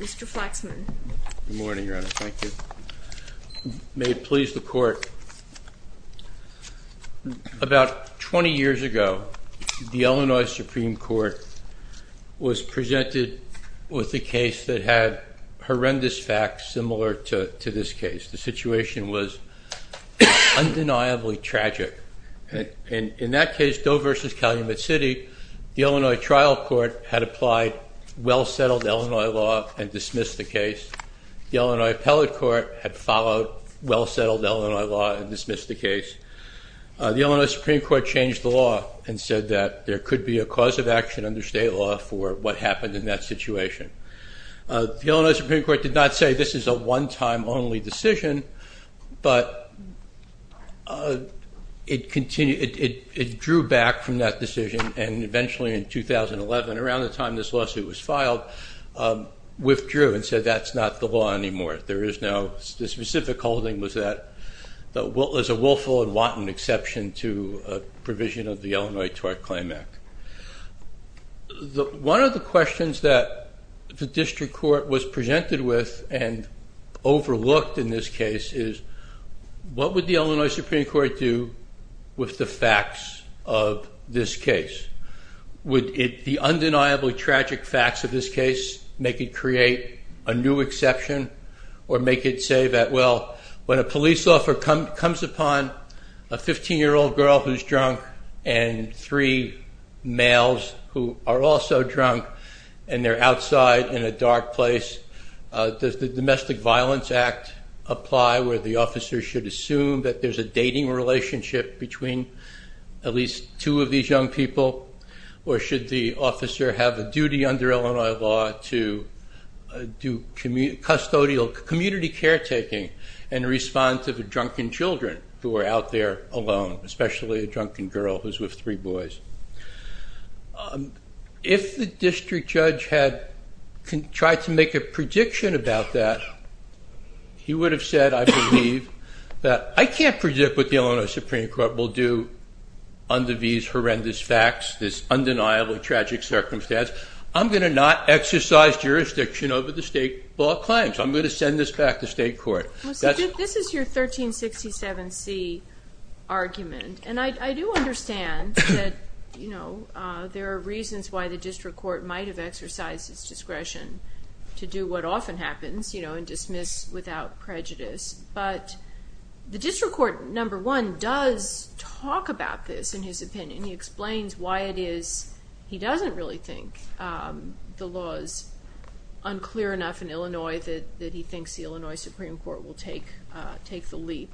Mr. Flaxman. Good morning, Your Honor. Thank you. May it please the Court, about 20 years ago, the Illinois Supreme Court was presented with a case that had horrendous facts similar to this case. The situation was undeniably tragic. In that case, Doe v. Calumet City, the Illinois trial court had applied well-settled Illinois law and dismissed the case. The Illinois appellate court had followed well-settled Illinois law and dismissed the case. The Illinois Supreme Court changed the law and said that there could be a cause of action under state law for what happened in that situation. The Illinois Supreme Court did not say this is a one-time only decision, but it drew back from that decision and eventually in 2011, around the time this lawsuit was filed, withdrew and said that's not the law anymore. There is no specific holding that there is a willful and wanton exception to a provision of the Illinois Tort Claim Act. One of the questions that the district court was presented with and overlooked in this case is, what would the Illinois Supreme Court do with the facts of this case? Would the undeniably tragic facts of this case make it create a new exception? Or make it say that, well, when a police officer comes upon a 15-year-old girl who's drunk and three males who are also drunk and they're outside in a dark place, does the Domestic Violence Act apply where the officer should assume that there's a dating relationship between at least two of these young people? Or should the officer have a duty under Illinois law to do custodial community caretaking and respond to the drunken children who are out there alone, especially a drunken girl who's with three boys? If the district judge had tried to make a prediction about that, he would have said, I believe, that I can't predict what the Illinois Supreme Court will do under these horrendous facts, this undeniably tragic circumstance. I'm going to not exercise jurisdiction over the state law claims. I'm going to send this back to state court. This is your 1367C argument. And I do understand that there are reasons why the district court might have exercised its discretion to do what often happens and dismiss without prejudice. But the district court, number one, does talk about this in his opinion. And he explains why it is he doesn't really think the law is unclear enough in Illinois that he thinks the Illinois Supreme Court will take the leap.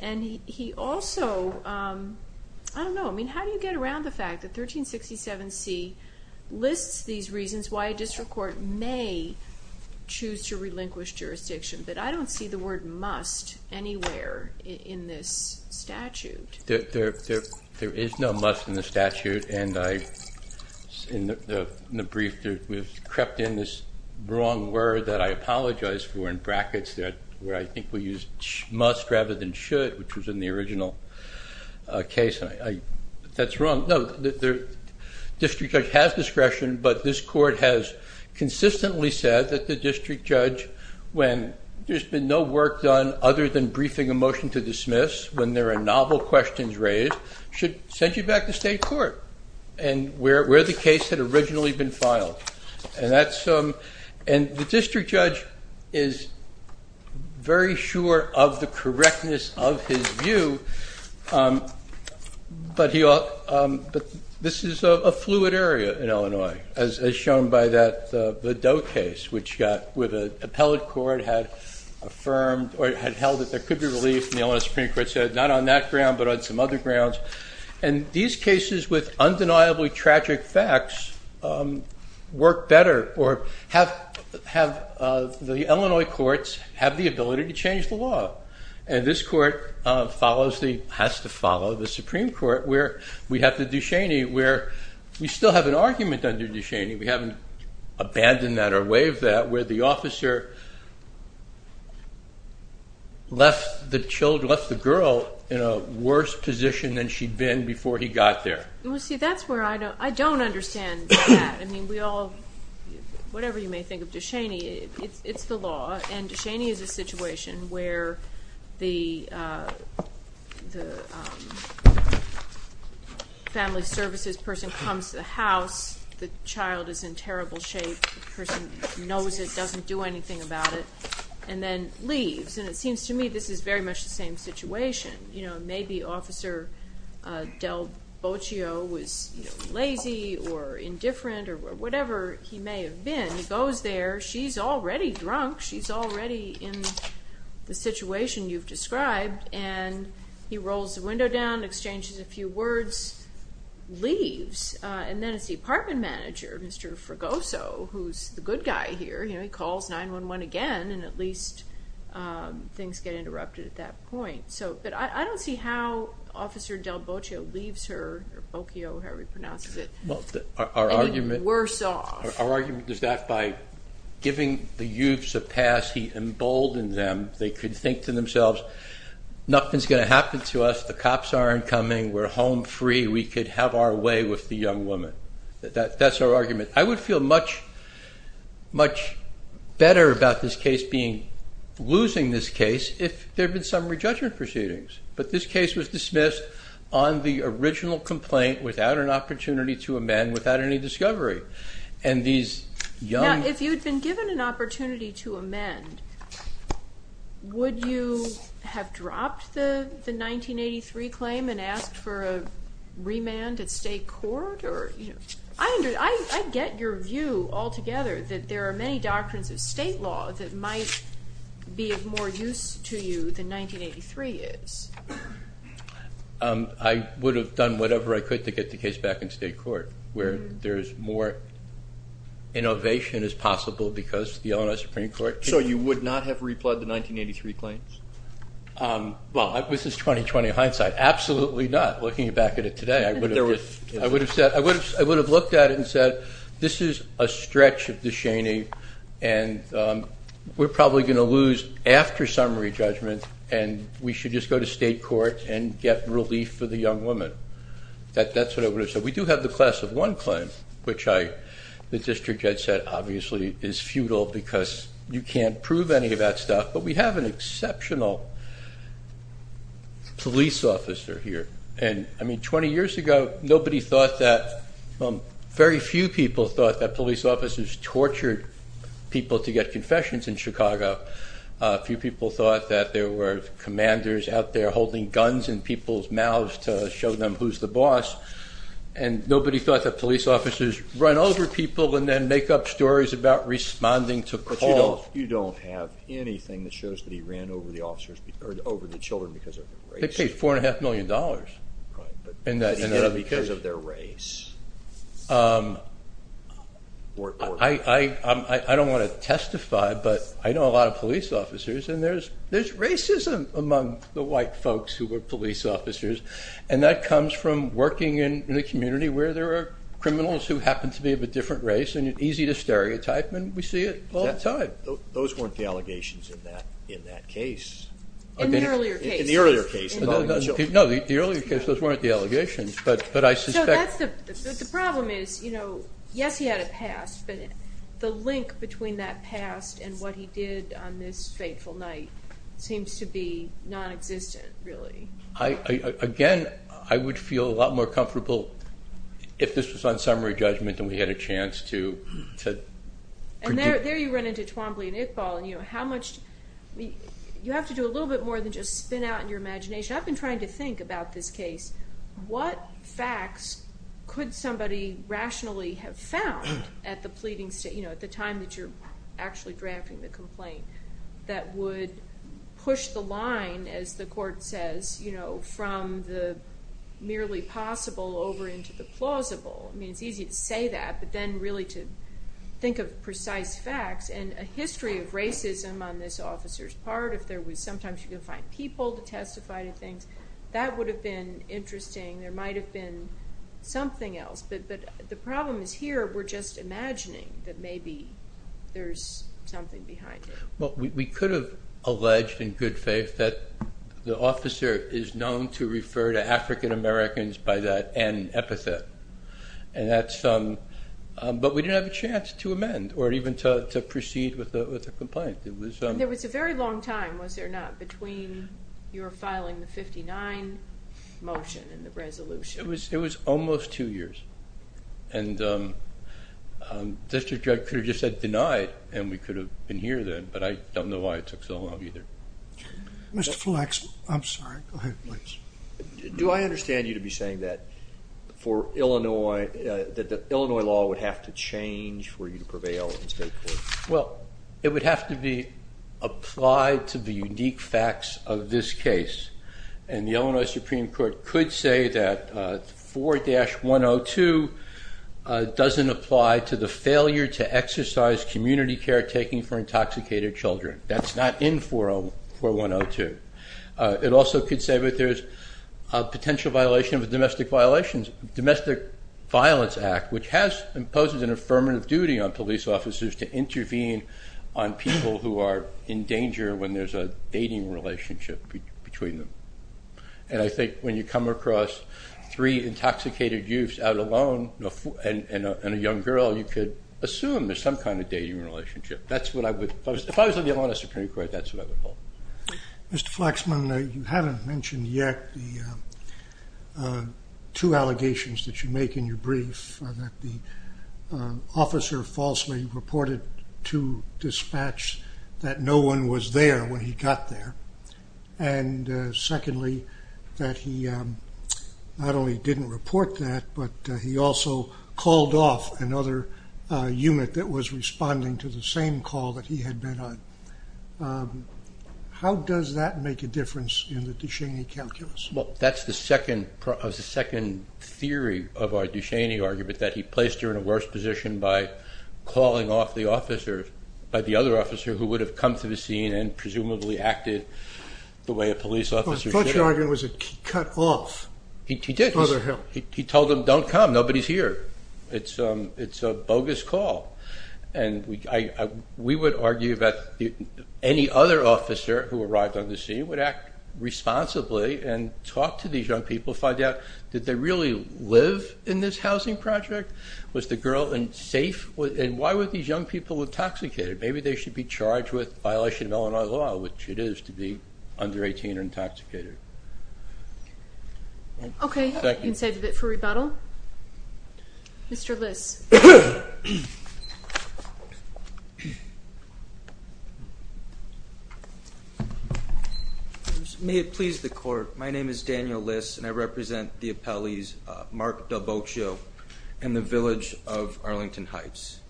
And he also, I don't know, I mean, how do you get around the fact that 1367C lists these reasons why a district court may choose to relinquish jurisdiction? But I don't see the word must anywhere in this statute. There is no must in the statute. And in the brief, we've crept in this wrong word that I apologize for in brackets where I think we used must rather than should, which was in the original case. That's wrong. No, the district judge has discretion, but this court has consistently said that the district judge, when there's been no work done other than briefing a motion to dismiss, when there are novel questions raised, should send you back to state court and where the case had originally been filed. And the district judge is very sure of the correctness of his view. But this is a fluid area in Illinois, as shown by the Doe case, which with an appellate court had affirmed or had held that there could be relief. And the Illinois Supreme Court said not on that ground, but on some other grounds. And these cases with undeniably tragic facts work better or have the Illinois courts have the ability to change the law. And this court has to follow the Supreme Court, where we have the Ducheney, where we still have an argument under Ducheney. We haven't abandoned that or waived that, where the officer left the girl in a worse position than she'd been before he got there. Well, see, that's where I don't understand that. I mean, we all, whatever you may think of Ducheney, it's the law. And Ducheney is a situation where the family services person comes to the house, the child is in terrible shape, the person knows it, doesn't do anything about it, and then leaves. And it seems to me this is very much the same situation. You know, maybe Officer Del Bocio was lazy or indifferent or whatever he may have been. He goes there. She's already drunk. She's already in the situation you've described. And he rolls the window down, exchanges a few words, leaves. And then it's the apartment manager, Mr. Fregoso, who's the good guy here. You know, he calls 911 again, and at least things get interrupted at that point. But I don't see how Officer Del Bocio leaves her, or Bocio, however he pronounces it, and worse off. Our argument is that by giving the youths a pass, he emboldened them. They could think to themselves, nothing's going to happen to us. The cops aren't coming. We're home free. We could have our way with the young woman. That's our argument. I would feel much, much better about this case losing this case if there had been summary judgment proceedings. But this case was dismissed on the original complaint without an opportunity to amend, without any discovery. And these young- Now, if you had been given an opportunity to amend, would you have dropped the 1983 claim and asked for a remand at state court? I get your view altogether that there are many doctrines of state law that might be of more use to you than 1983 is. I would have done whatever I could to get the case back in state court, where there's more innovation as possible because the Illinois Supreme Court- So you would not have replugged the 1983 claims? Well, this is 20-20 hindsight. Absolutely not. I'm not looking back at it today. I would have looked at it and said, this is a stretch of the Cheney, and we're probably going to lose after summary judgment, and we should just go to state court and get relief for the young woman. That's what I would have said. We do have the Class of 1 claim, which the district judge said obviously is futile because you can't prove any of that stuff. But we have an exceptional police officer here. And 20 years ago, very few people thought that police officers tortured people to get confessions in Chicago. Few people thought that there were commanders out there holding guns in people's mouths to show them who's the boss. And nobody thought that police officers run over people and then make up stories about responding to calls. But you don't have anything that shows that he ran over the children because of their race? They paid $4.5 million. Right. Because of their race. I don't want to testify, but I know a lot of police officers, and there's racism among the white folks who were police officers. And that comes from working in the community where there are criminals who happen to be of a different race, and it's easy to stereotype, and we see it all the time. Those weren't the allegations in that case. In the earlier case. In the earlier case involving the children. No, the earlier case, those weren't the allegations, but I suspect. The problem is, yes, he had a past, but the link between that past and what he did on this fateful night seems to be nonexistent, really. Again, I would feel a lot more comfortable if this was on summary judgment and we had a chance to predict. And there you run into Twombly and Iqbal, and you have to do a little bit more than just spin out in your imagination. I've been trying to think about this case. What facts could somebody rationally have found at the time that you're actually drafting the complaint that would push the line, as the court says, from the merely possible over into the plausible? I mean, it's easy to say that, but then really to think of precise facts and a history of racism on this officer's part. Sometimes you can find people to testify to things. That would have been interesting. There might have been something else, but the problem is here we're just imagining that maybe there's something behind it. Well, we could have alleged in good faith that the officer is known to refer to African Americans by that N epithet, but we didn't have a chance to amend or even to proceed with the complaint. There was a very long time, was there not, between your filing the 59 motion and the resolution? It was almost two years, and District Judge could have just said deny it and we could have been here then, but I don't know why it took so long either. Mr. Flex, I'm sorry. Go ahead, please. Do I understand you to be saying that the Illinois law would have to change for you to prevail in state court? Well, it would have to be applied to the unique facts of this case, and the Illinois Supreme Court could say that 4-102 doesn't apply to the failure to exercise community care taking for intoxicated children. That's not in 4-102. It also could say that there's a potential violation of the Domestic Violence Act, which has imposed an affirmative duty on police officers to intervene on people who are in danger when there's a dating relationship between them. And I think when you come across three intoxicated youths out alone and a young girl, you could assume there's some kind of dating relationship. If I was on the Illinois Supreme Court, that's what I would hold. Mr. Flexman, you haven't mentioned yet the two allegations that you make in your brief, that the officer falsely reported to dispatch that no one was there when he got there, and secondly, that he not only didn't report that, but he also called off another unit that was responding to the same call that he had been on. How does that make a difference in the Ducheney calculus? Well, that's the second theory of our Ducheney argument, that he placed her in a worse position by calling off the other officer who would have come to the scene and presumably acted the way a police officer should have. I thought your argument was that he cut off Mother Hill. He did. He told them, don't come. Nobody's here. It's a bogus call. We would argue that any other officer who arrived on the scene would act responsibly and talk to these young people, find out, did they really live in this housing project? Was the girl safe? And why were these young people intoxicated? Maybe they should be charged with violation of Illinois law, which it is to be under 18 or intoxicated. Okay, we can save it for rebuttal. Mr. Liss. May it please the court. My name is Daniel Liss, and I represent the appellees Mark Del Bocio and the Village of Arlington Heights.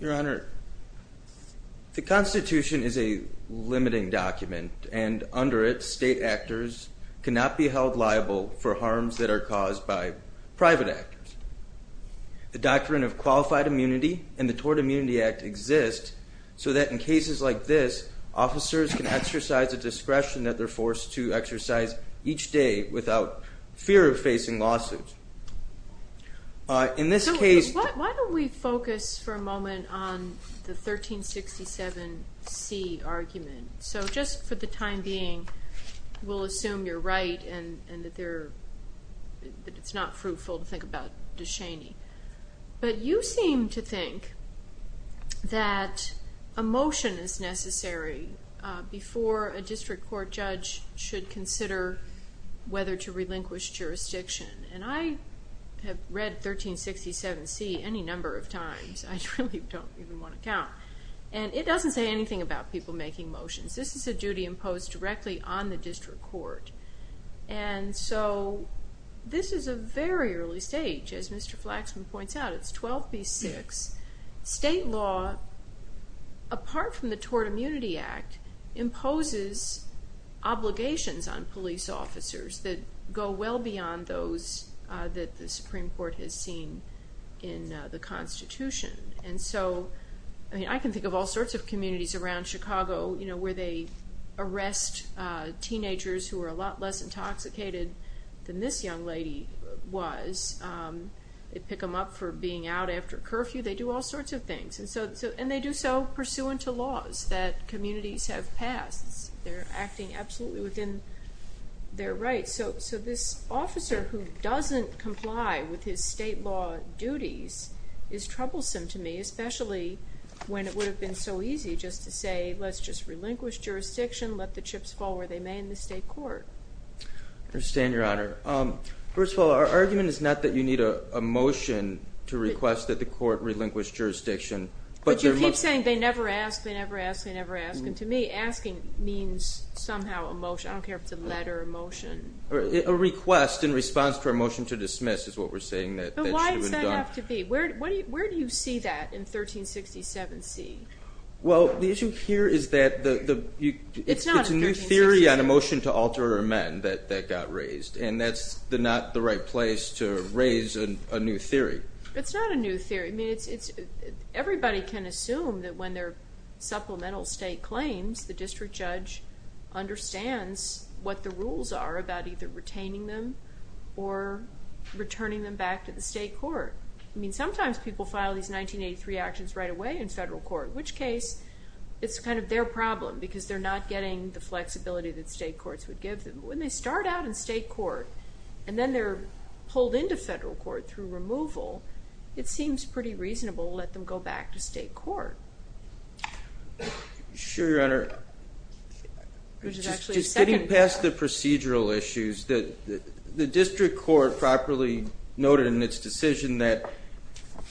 Your Honor, the Constitution is a limiting document, and under it, state actors cannot be held liable for harms that are caused by private actors. The Doctrine of Qualified Immunity and the Tort Immunity Act exist so that in cases like this, officers can exercise the discretion that they're forced to exercise each day without fear of facing lawsuits. So why don't we focus for a moment on the 1367C argument? So just for the time being, we'll assume you're right and that it's not fruitful to think about DeShaney. But you seem to think that a motion is necessary before a district court judge should consider whether to relinquish jurisdiction. And I have read 1367C any number of times. I really don't even want to count. And it doesn't say anything about people making motions. This is a duty imposed directly on the district court. And so this is a very early stage. As Mr. Flaxman points out, it's 12B6. State law, apart from the Tort Immunity Act, imposes obligations on police officers that go well beyond those that the Supreme Court has seen in the Constitution. And so I can think of all sorts of communities around Chicago where they arrest teenagers who are a lot less intoxicated than this young lady was. They pick them up for being out after curfew. They do all sorts of things. And they do so pursuant to laws that communities have passed. They're acting absolutely within their rights. So this officer who doesn't comply with his state law duties is troublesome to me, especially when it would have been so easy just to say, let's just relinquish jurisdiction, let the chips fall where they may in the state court. I understand, Your Honor. First of all, our argument is not that you need a motion to request that the court relinquish jurisdiction. But you keep saying they never ask, they never ask, they never ask. And to me, asking means somehow a motion. I don't care if it's a letter or a motion. A request in response to a motion to dismiss is what we're saying that should have been done. But why does that have to be? Where do you see that in 1367C? Well, the issue here is that it's a new theory on a motion to alter or amend that got raised. And that's not the right place to raise a new theory. It's not a new theory. I mean, everybody can assume that when they're supplemental state claims, the district judge understands what the rules are about either retaining them or returning them back to the state court. I mean, sometimes people file these 1983 actions right away in federal court, which case it's kind of their problem because they're not getting the flexibility that state courts would give them. When they start out in state court and then they're pulled into federal court through removal, it seems pretty reasonable to let them go back to state court. Sure, Your Honor. Just getting past the procedural issues, the district court properly noted in its decision that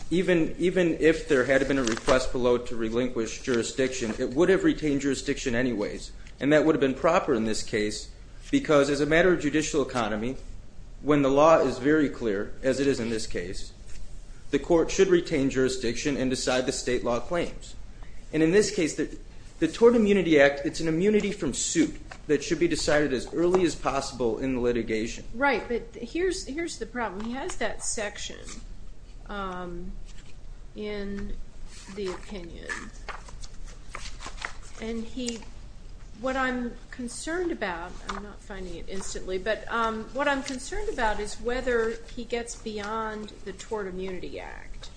even if there had been a request below to relinquish jurisdiction, it would have retained jurisdiction anyways. And that would have been proper in this case because as a matter of judicial economy, when the law is very clear, as it is in this case, the court should retain jurisdiction and decide the state law claims. And in this case, the Tort Immunity Act, it's an immunity from suit that should be decided as early as possible in the litigation. Right, but here's the problem. He has that section in the opinion. And what I'm concerned about, I'm not finding it instantly, but what I'm concerned about is whether he gets beyond the Tort Immunity Act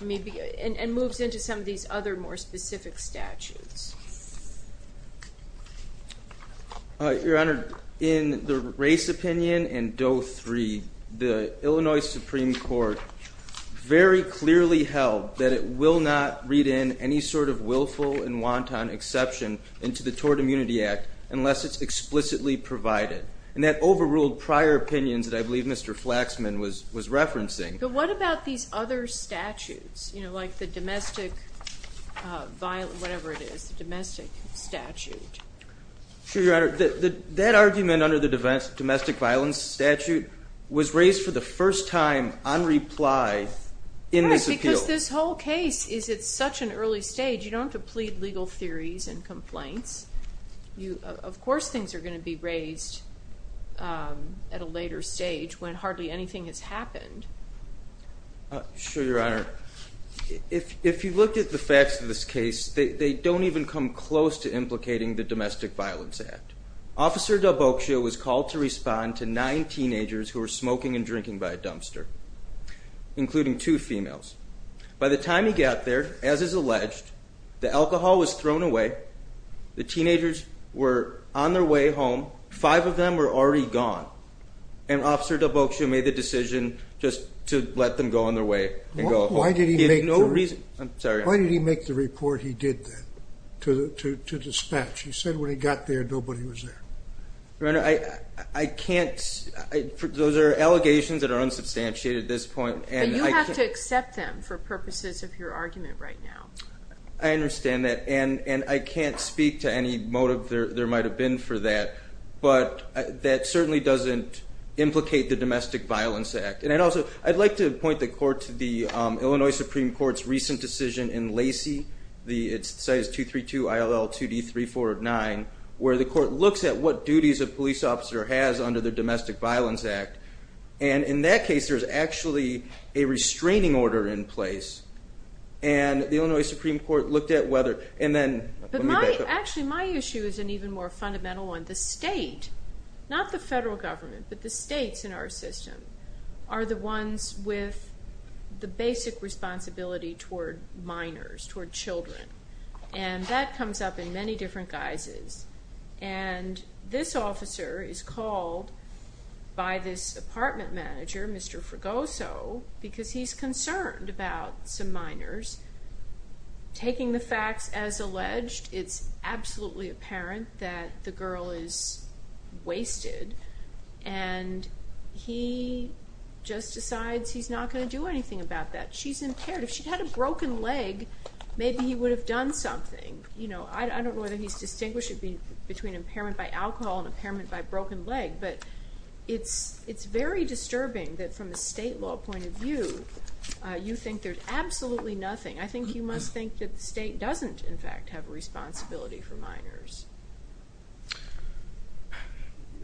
and moves into some of these other more specific statutes. Your Honor, in the race opinion and Doe 3, the Illinois Supreme Court very clearly held that it will not read in any sort of willful and wanton exception into the Tort Immunity Act unless it's explicitly provided. And that overruled prior opinions that I believe Mr. Flaxman was referencing. But what about these other statutes, like the domestic violence, whatever it is, the domestic statute? Sure, Your Honor. That argument under the domestic violence statute was raised for the first time on reply in this appeal. Right, because this whole case is at such an early stage. You don't have to plead legal theories and complaints. Of course things are going to be raised at a later stage when hardly anything has happened. Sure, Your Honor. If you look at the facts of this case, they don't even come close to implicating the Domestic Violence Act. Officer DelBocchio was called to respond to nine teenagers who were smoking and drinking by a dumpster, including two females. By the time he got there, as is alleged, the alcohol was thrown away. The teenagers were on their way home. Five of them were already gone. And Officer DelBocchio made the decision just to let them go on their way and go home. Why did he make the report he did that to dispatch? He said when he got there, nobody was there. Your Honor, I can't. Those are allegations that are unsubstantiated at this point. But you have to accept them for purposes of your argument right now. I understand that, and I can't speak to any motive there might have been for that. But that certainly doesn't implicate the Domestic Violence Act. And also, I'd like to point the Court to the Illinois Supreme Court's recent decision in Lacey. It cites 232 ILL 2D3409, where the Court looks at what duties a police officer has under the Domestic Violence Act. And in that case, there's actually a restraining order in place. And the Illinois Supreme Court looked at whether, and then, let me back up. Actually, my issue is an even more fundamental one. The state, not the federal government, but the states in our system, are the ones with the basic responsibility toward minors, toward children. And that comes up in many different guises. And this officer is called by this apartment manager, Mr. Fregoso, because he's concerned about some minors. Taking the facts as alleged, it's absolutely apparent that the girl is wasted. And he just decides he's not going to do anything about that. She's impaired. If she'd had a broken leg, maybe he would have done something. I don't know whether he's distinguishing between impairment by alcohol and impairment by broken leg, but it's very disturbing that from a state law point of view, you think there's absolutely nothing. I think you must think that the state doesn't, in fact, have responsibility for minors.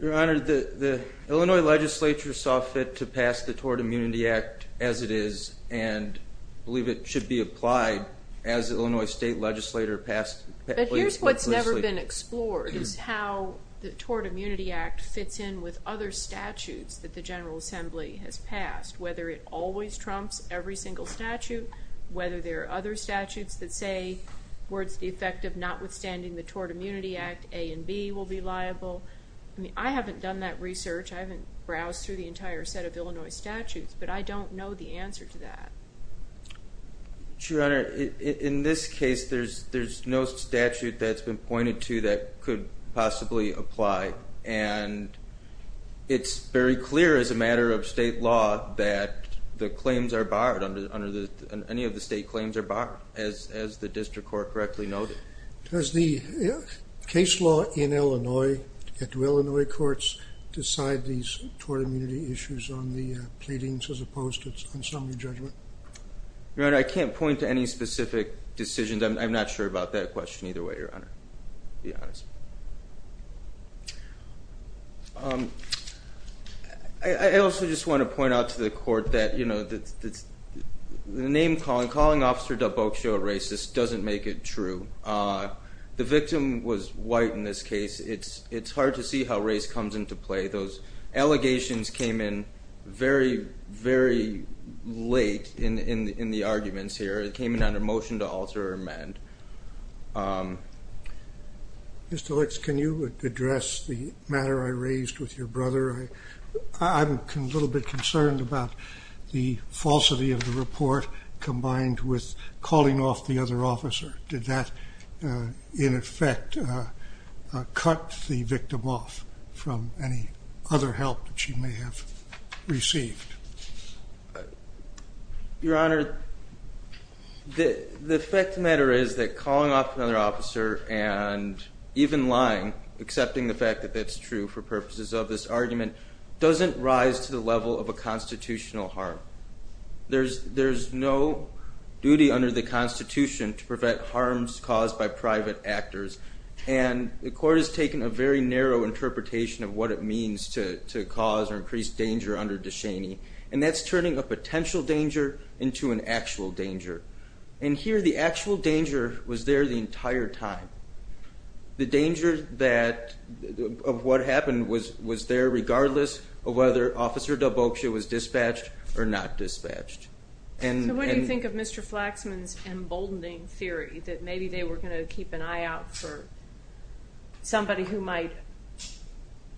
Your Honor, the Illinois legislature saw fit to pass the Tort Immunity Act as it is, and believe it should be applied as the Illinois state legislature passed it. But here's what's never been explored, is how the Tort Immunity Act fits in with other statutes that the General Assembly has passed, whether it always trumps every single statute, whether there are other statutes that say, where it's the effect of notwithstanding the Tort Immunity Act, A and B will be liable. I mean, I haven't done that research. I haven't browsed through the entire set of Illinois statutes, but I don't know the answer to that. Your Honor, in this case, there's no statute that's been pointed to that could possibly apply, and it's very clear as a matter of state law that the claims are barred, any of the state claims are barred, as the district court correctly noted. Does the case law in Illinois, do Illinois courts decide these tort immunity issues on the pleadings as opposed to the assembly judgment? Your Honor, I can't point to any specific decisions. I'm not sure about that question either way, Your Honor, to be honest. I also just want to point out to the court that, you know, that the name calling, calling Officer Dabokshi a racist doesn't make it true. The victim was white in this case. It's hard to see how race comes into play. Those allegations came in very, very late in the arguments here. It came in under motion to alter or amend. Mr. Licks, can you address the matter I raised with your brother? I'm a little bit concerned about the falsity of the report combined with calling off the other officer. Did that, in effect, cut the victim off from any other help that she may have received? Your Honor, the fact of the matter is that calling off another officer and even lying, accepting the fact that that's true for purposes of this argument, doesn't rise to the level of a constitutional harm. There's no duty under the Constitution to prevent harms caused by private actors, and the court has taken a very narrow interpretation of what it means to cause or increase danger under Deshaney, and that's turning a potential danger into an actual danger. And here, the actual danger was there the entire time. The danger of what happened was there regardless of whether Officer Dabokshi was dispatched or not dispatched. So what do you think of Mr. Flaxman's emboldening theory that maybe they were going to keep an eye out for somebody who might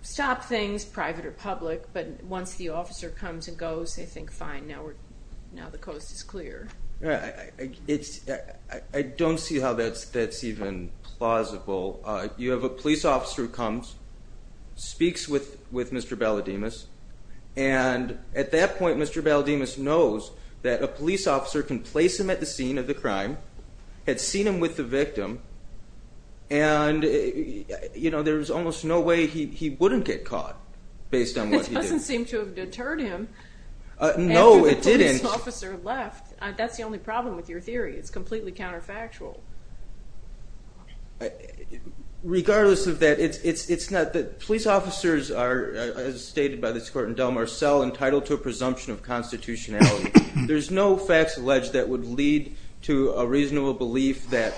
stop things, private or public, but once the officer comes and goes, they think, fine, now the coast is clear. I don't see how that's even plausible. You have a police officer who comes, speaks with Mr. Balademus, and at that point Mr. Balademus knows that a police officer can place him at the scene of the crime, had seen him with the victim, and there's almost no way he wouldn't get caught based on what he did. It doesn't seem to have deterred him. No, it didn't. That's the only problem with your theory. It's completely counterfactual. Regardless of that, police officers are, as stated by this court in Del Mar Cell, entitled to a presumption of constitutionality. There's no facts alleged that would lead to a reasonable belief that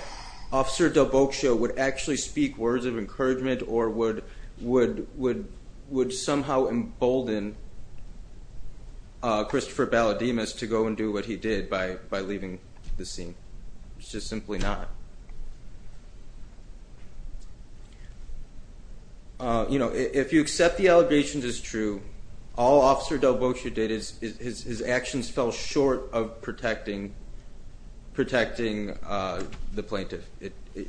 Officer Dabokshi would actually speak words of encouragement or would somehow embolden Christopher Balademus to go and do what he did by leaving the scene. It's just simply not. If you accept the allegations as true, all Officer Dabokshi did is his actions fell short of protecting the plaintiff.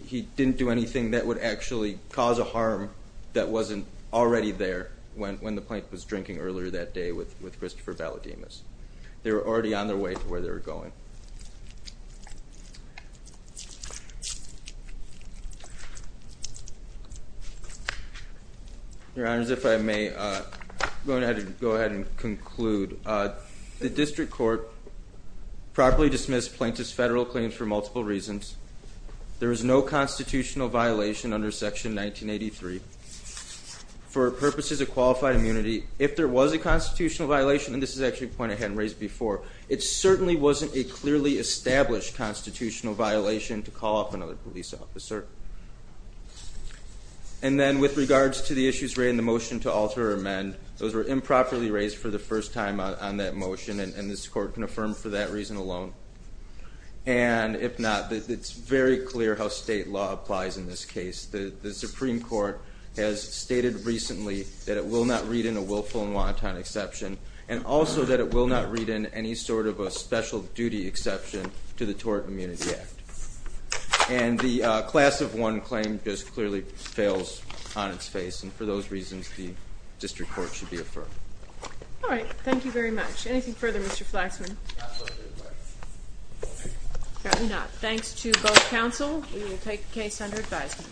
He didn't do anything that would actually cause a harm that wasn't already there when the plaintiff was drinking earlier that day with Christopher Balademus. They were already on their way to where they were going. Your Honors, if I may, I'm going to have to go ahead and conclude. The District Court properly dismissed plaintiff's federal claims for multiple reasons. There is no constitutional violation under Section 1983 for purposes of qualified immunity. If there was a constitutional violation, and this is actually a point I hadn't raised before, it certainly wasn't a clearly established constitutional violation to call up another police officer. And then with regards to the issues raised in the motion to alter or amend, those were improperly raised for the first time on that motion, and this Court can affirm for that reason alone. And if not, it's very clear how state law applies in this case. The Supreme Court has stated recently that it will not read in a willful and wanton exception, and also that it will not read in any sort of a special duty exception to the Tort Immunity Act. And the class of one claim just clearly fails on its face. And for those reasons, the District Court should be affirmed. All right. Thank you very much. Anything further, Mr. Flaxman? Probably not. Thanks to both counsel. We will take the case under advisement.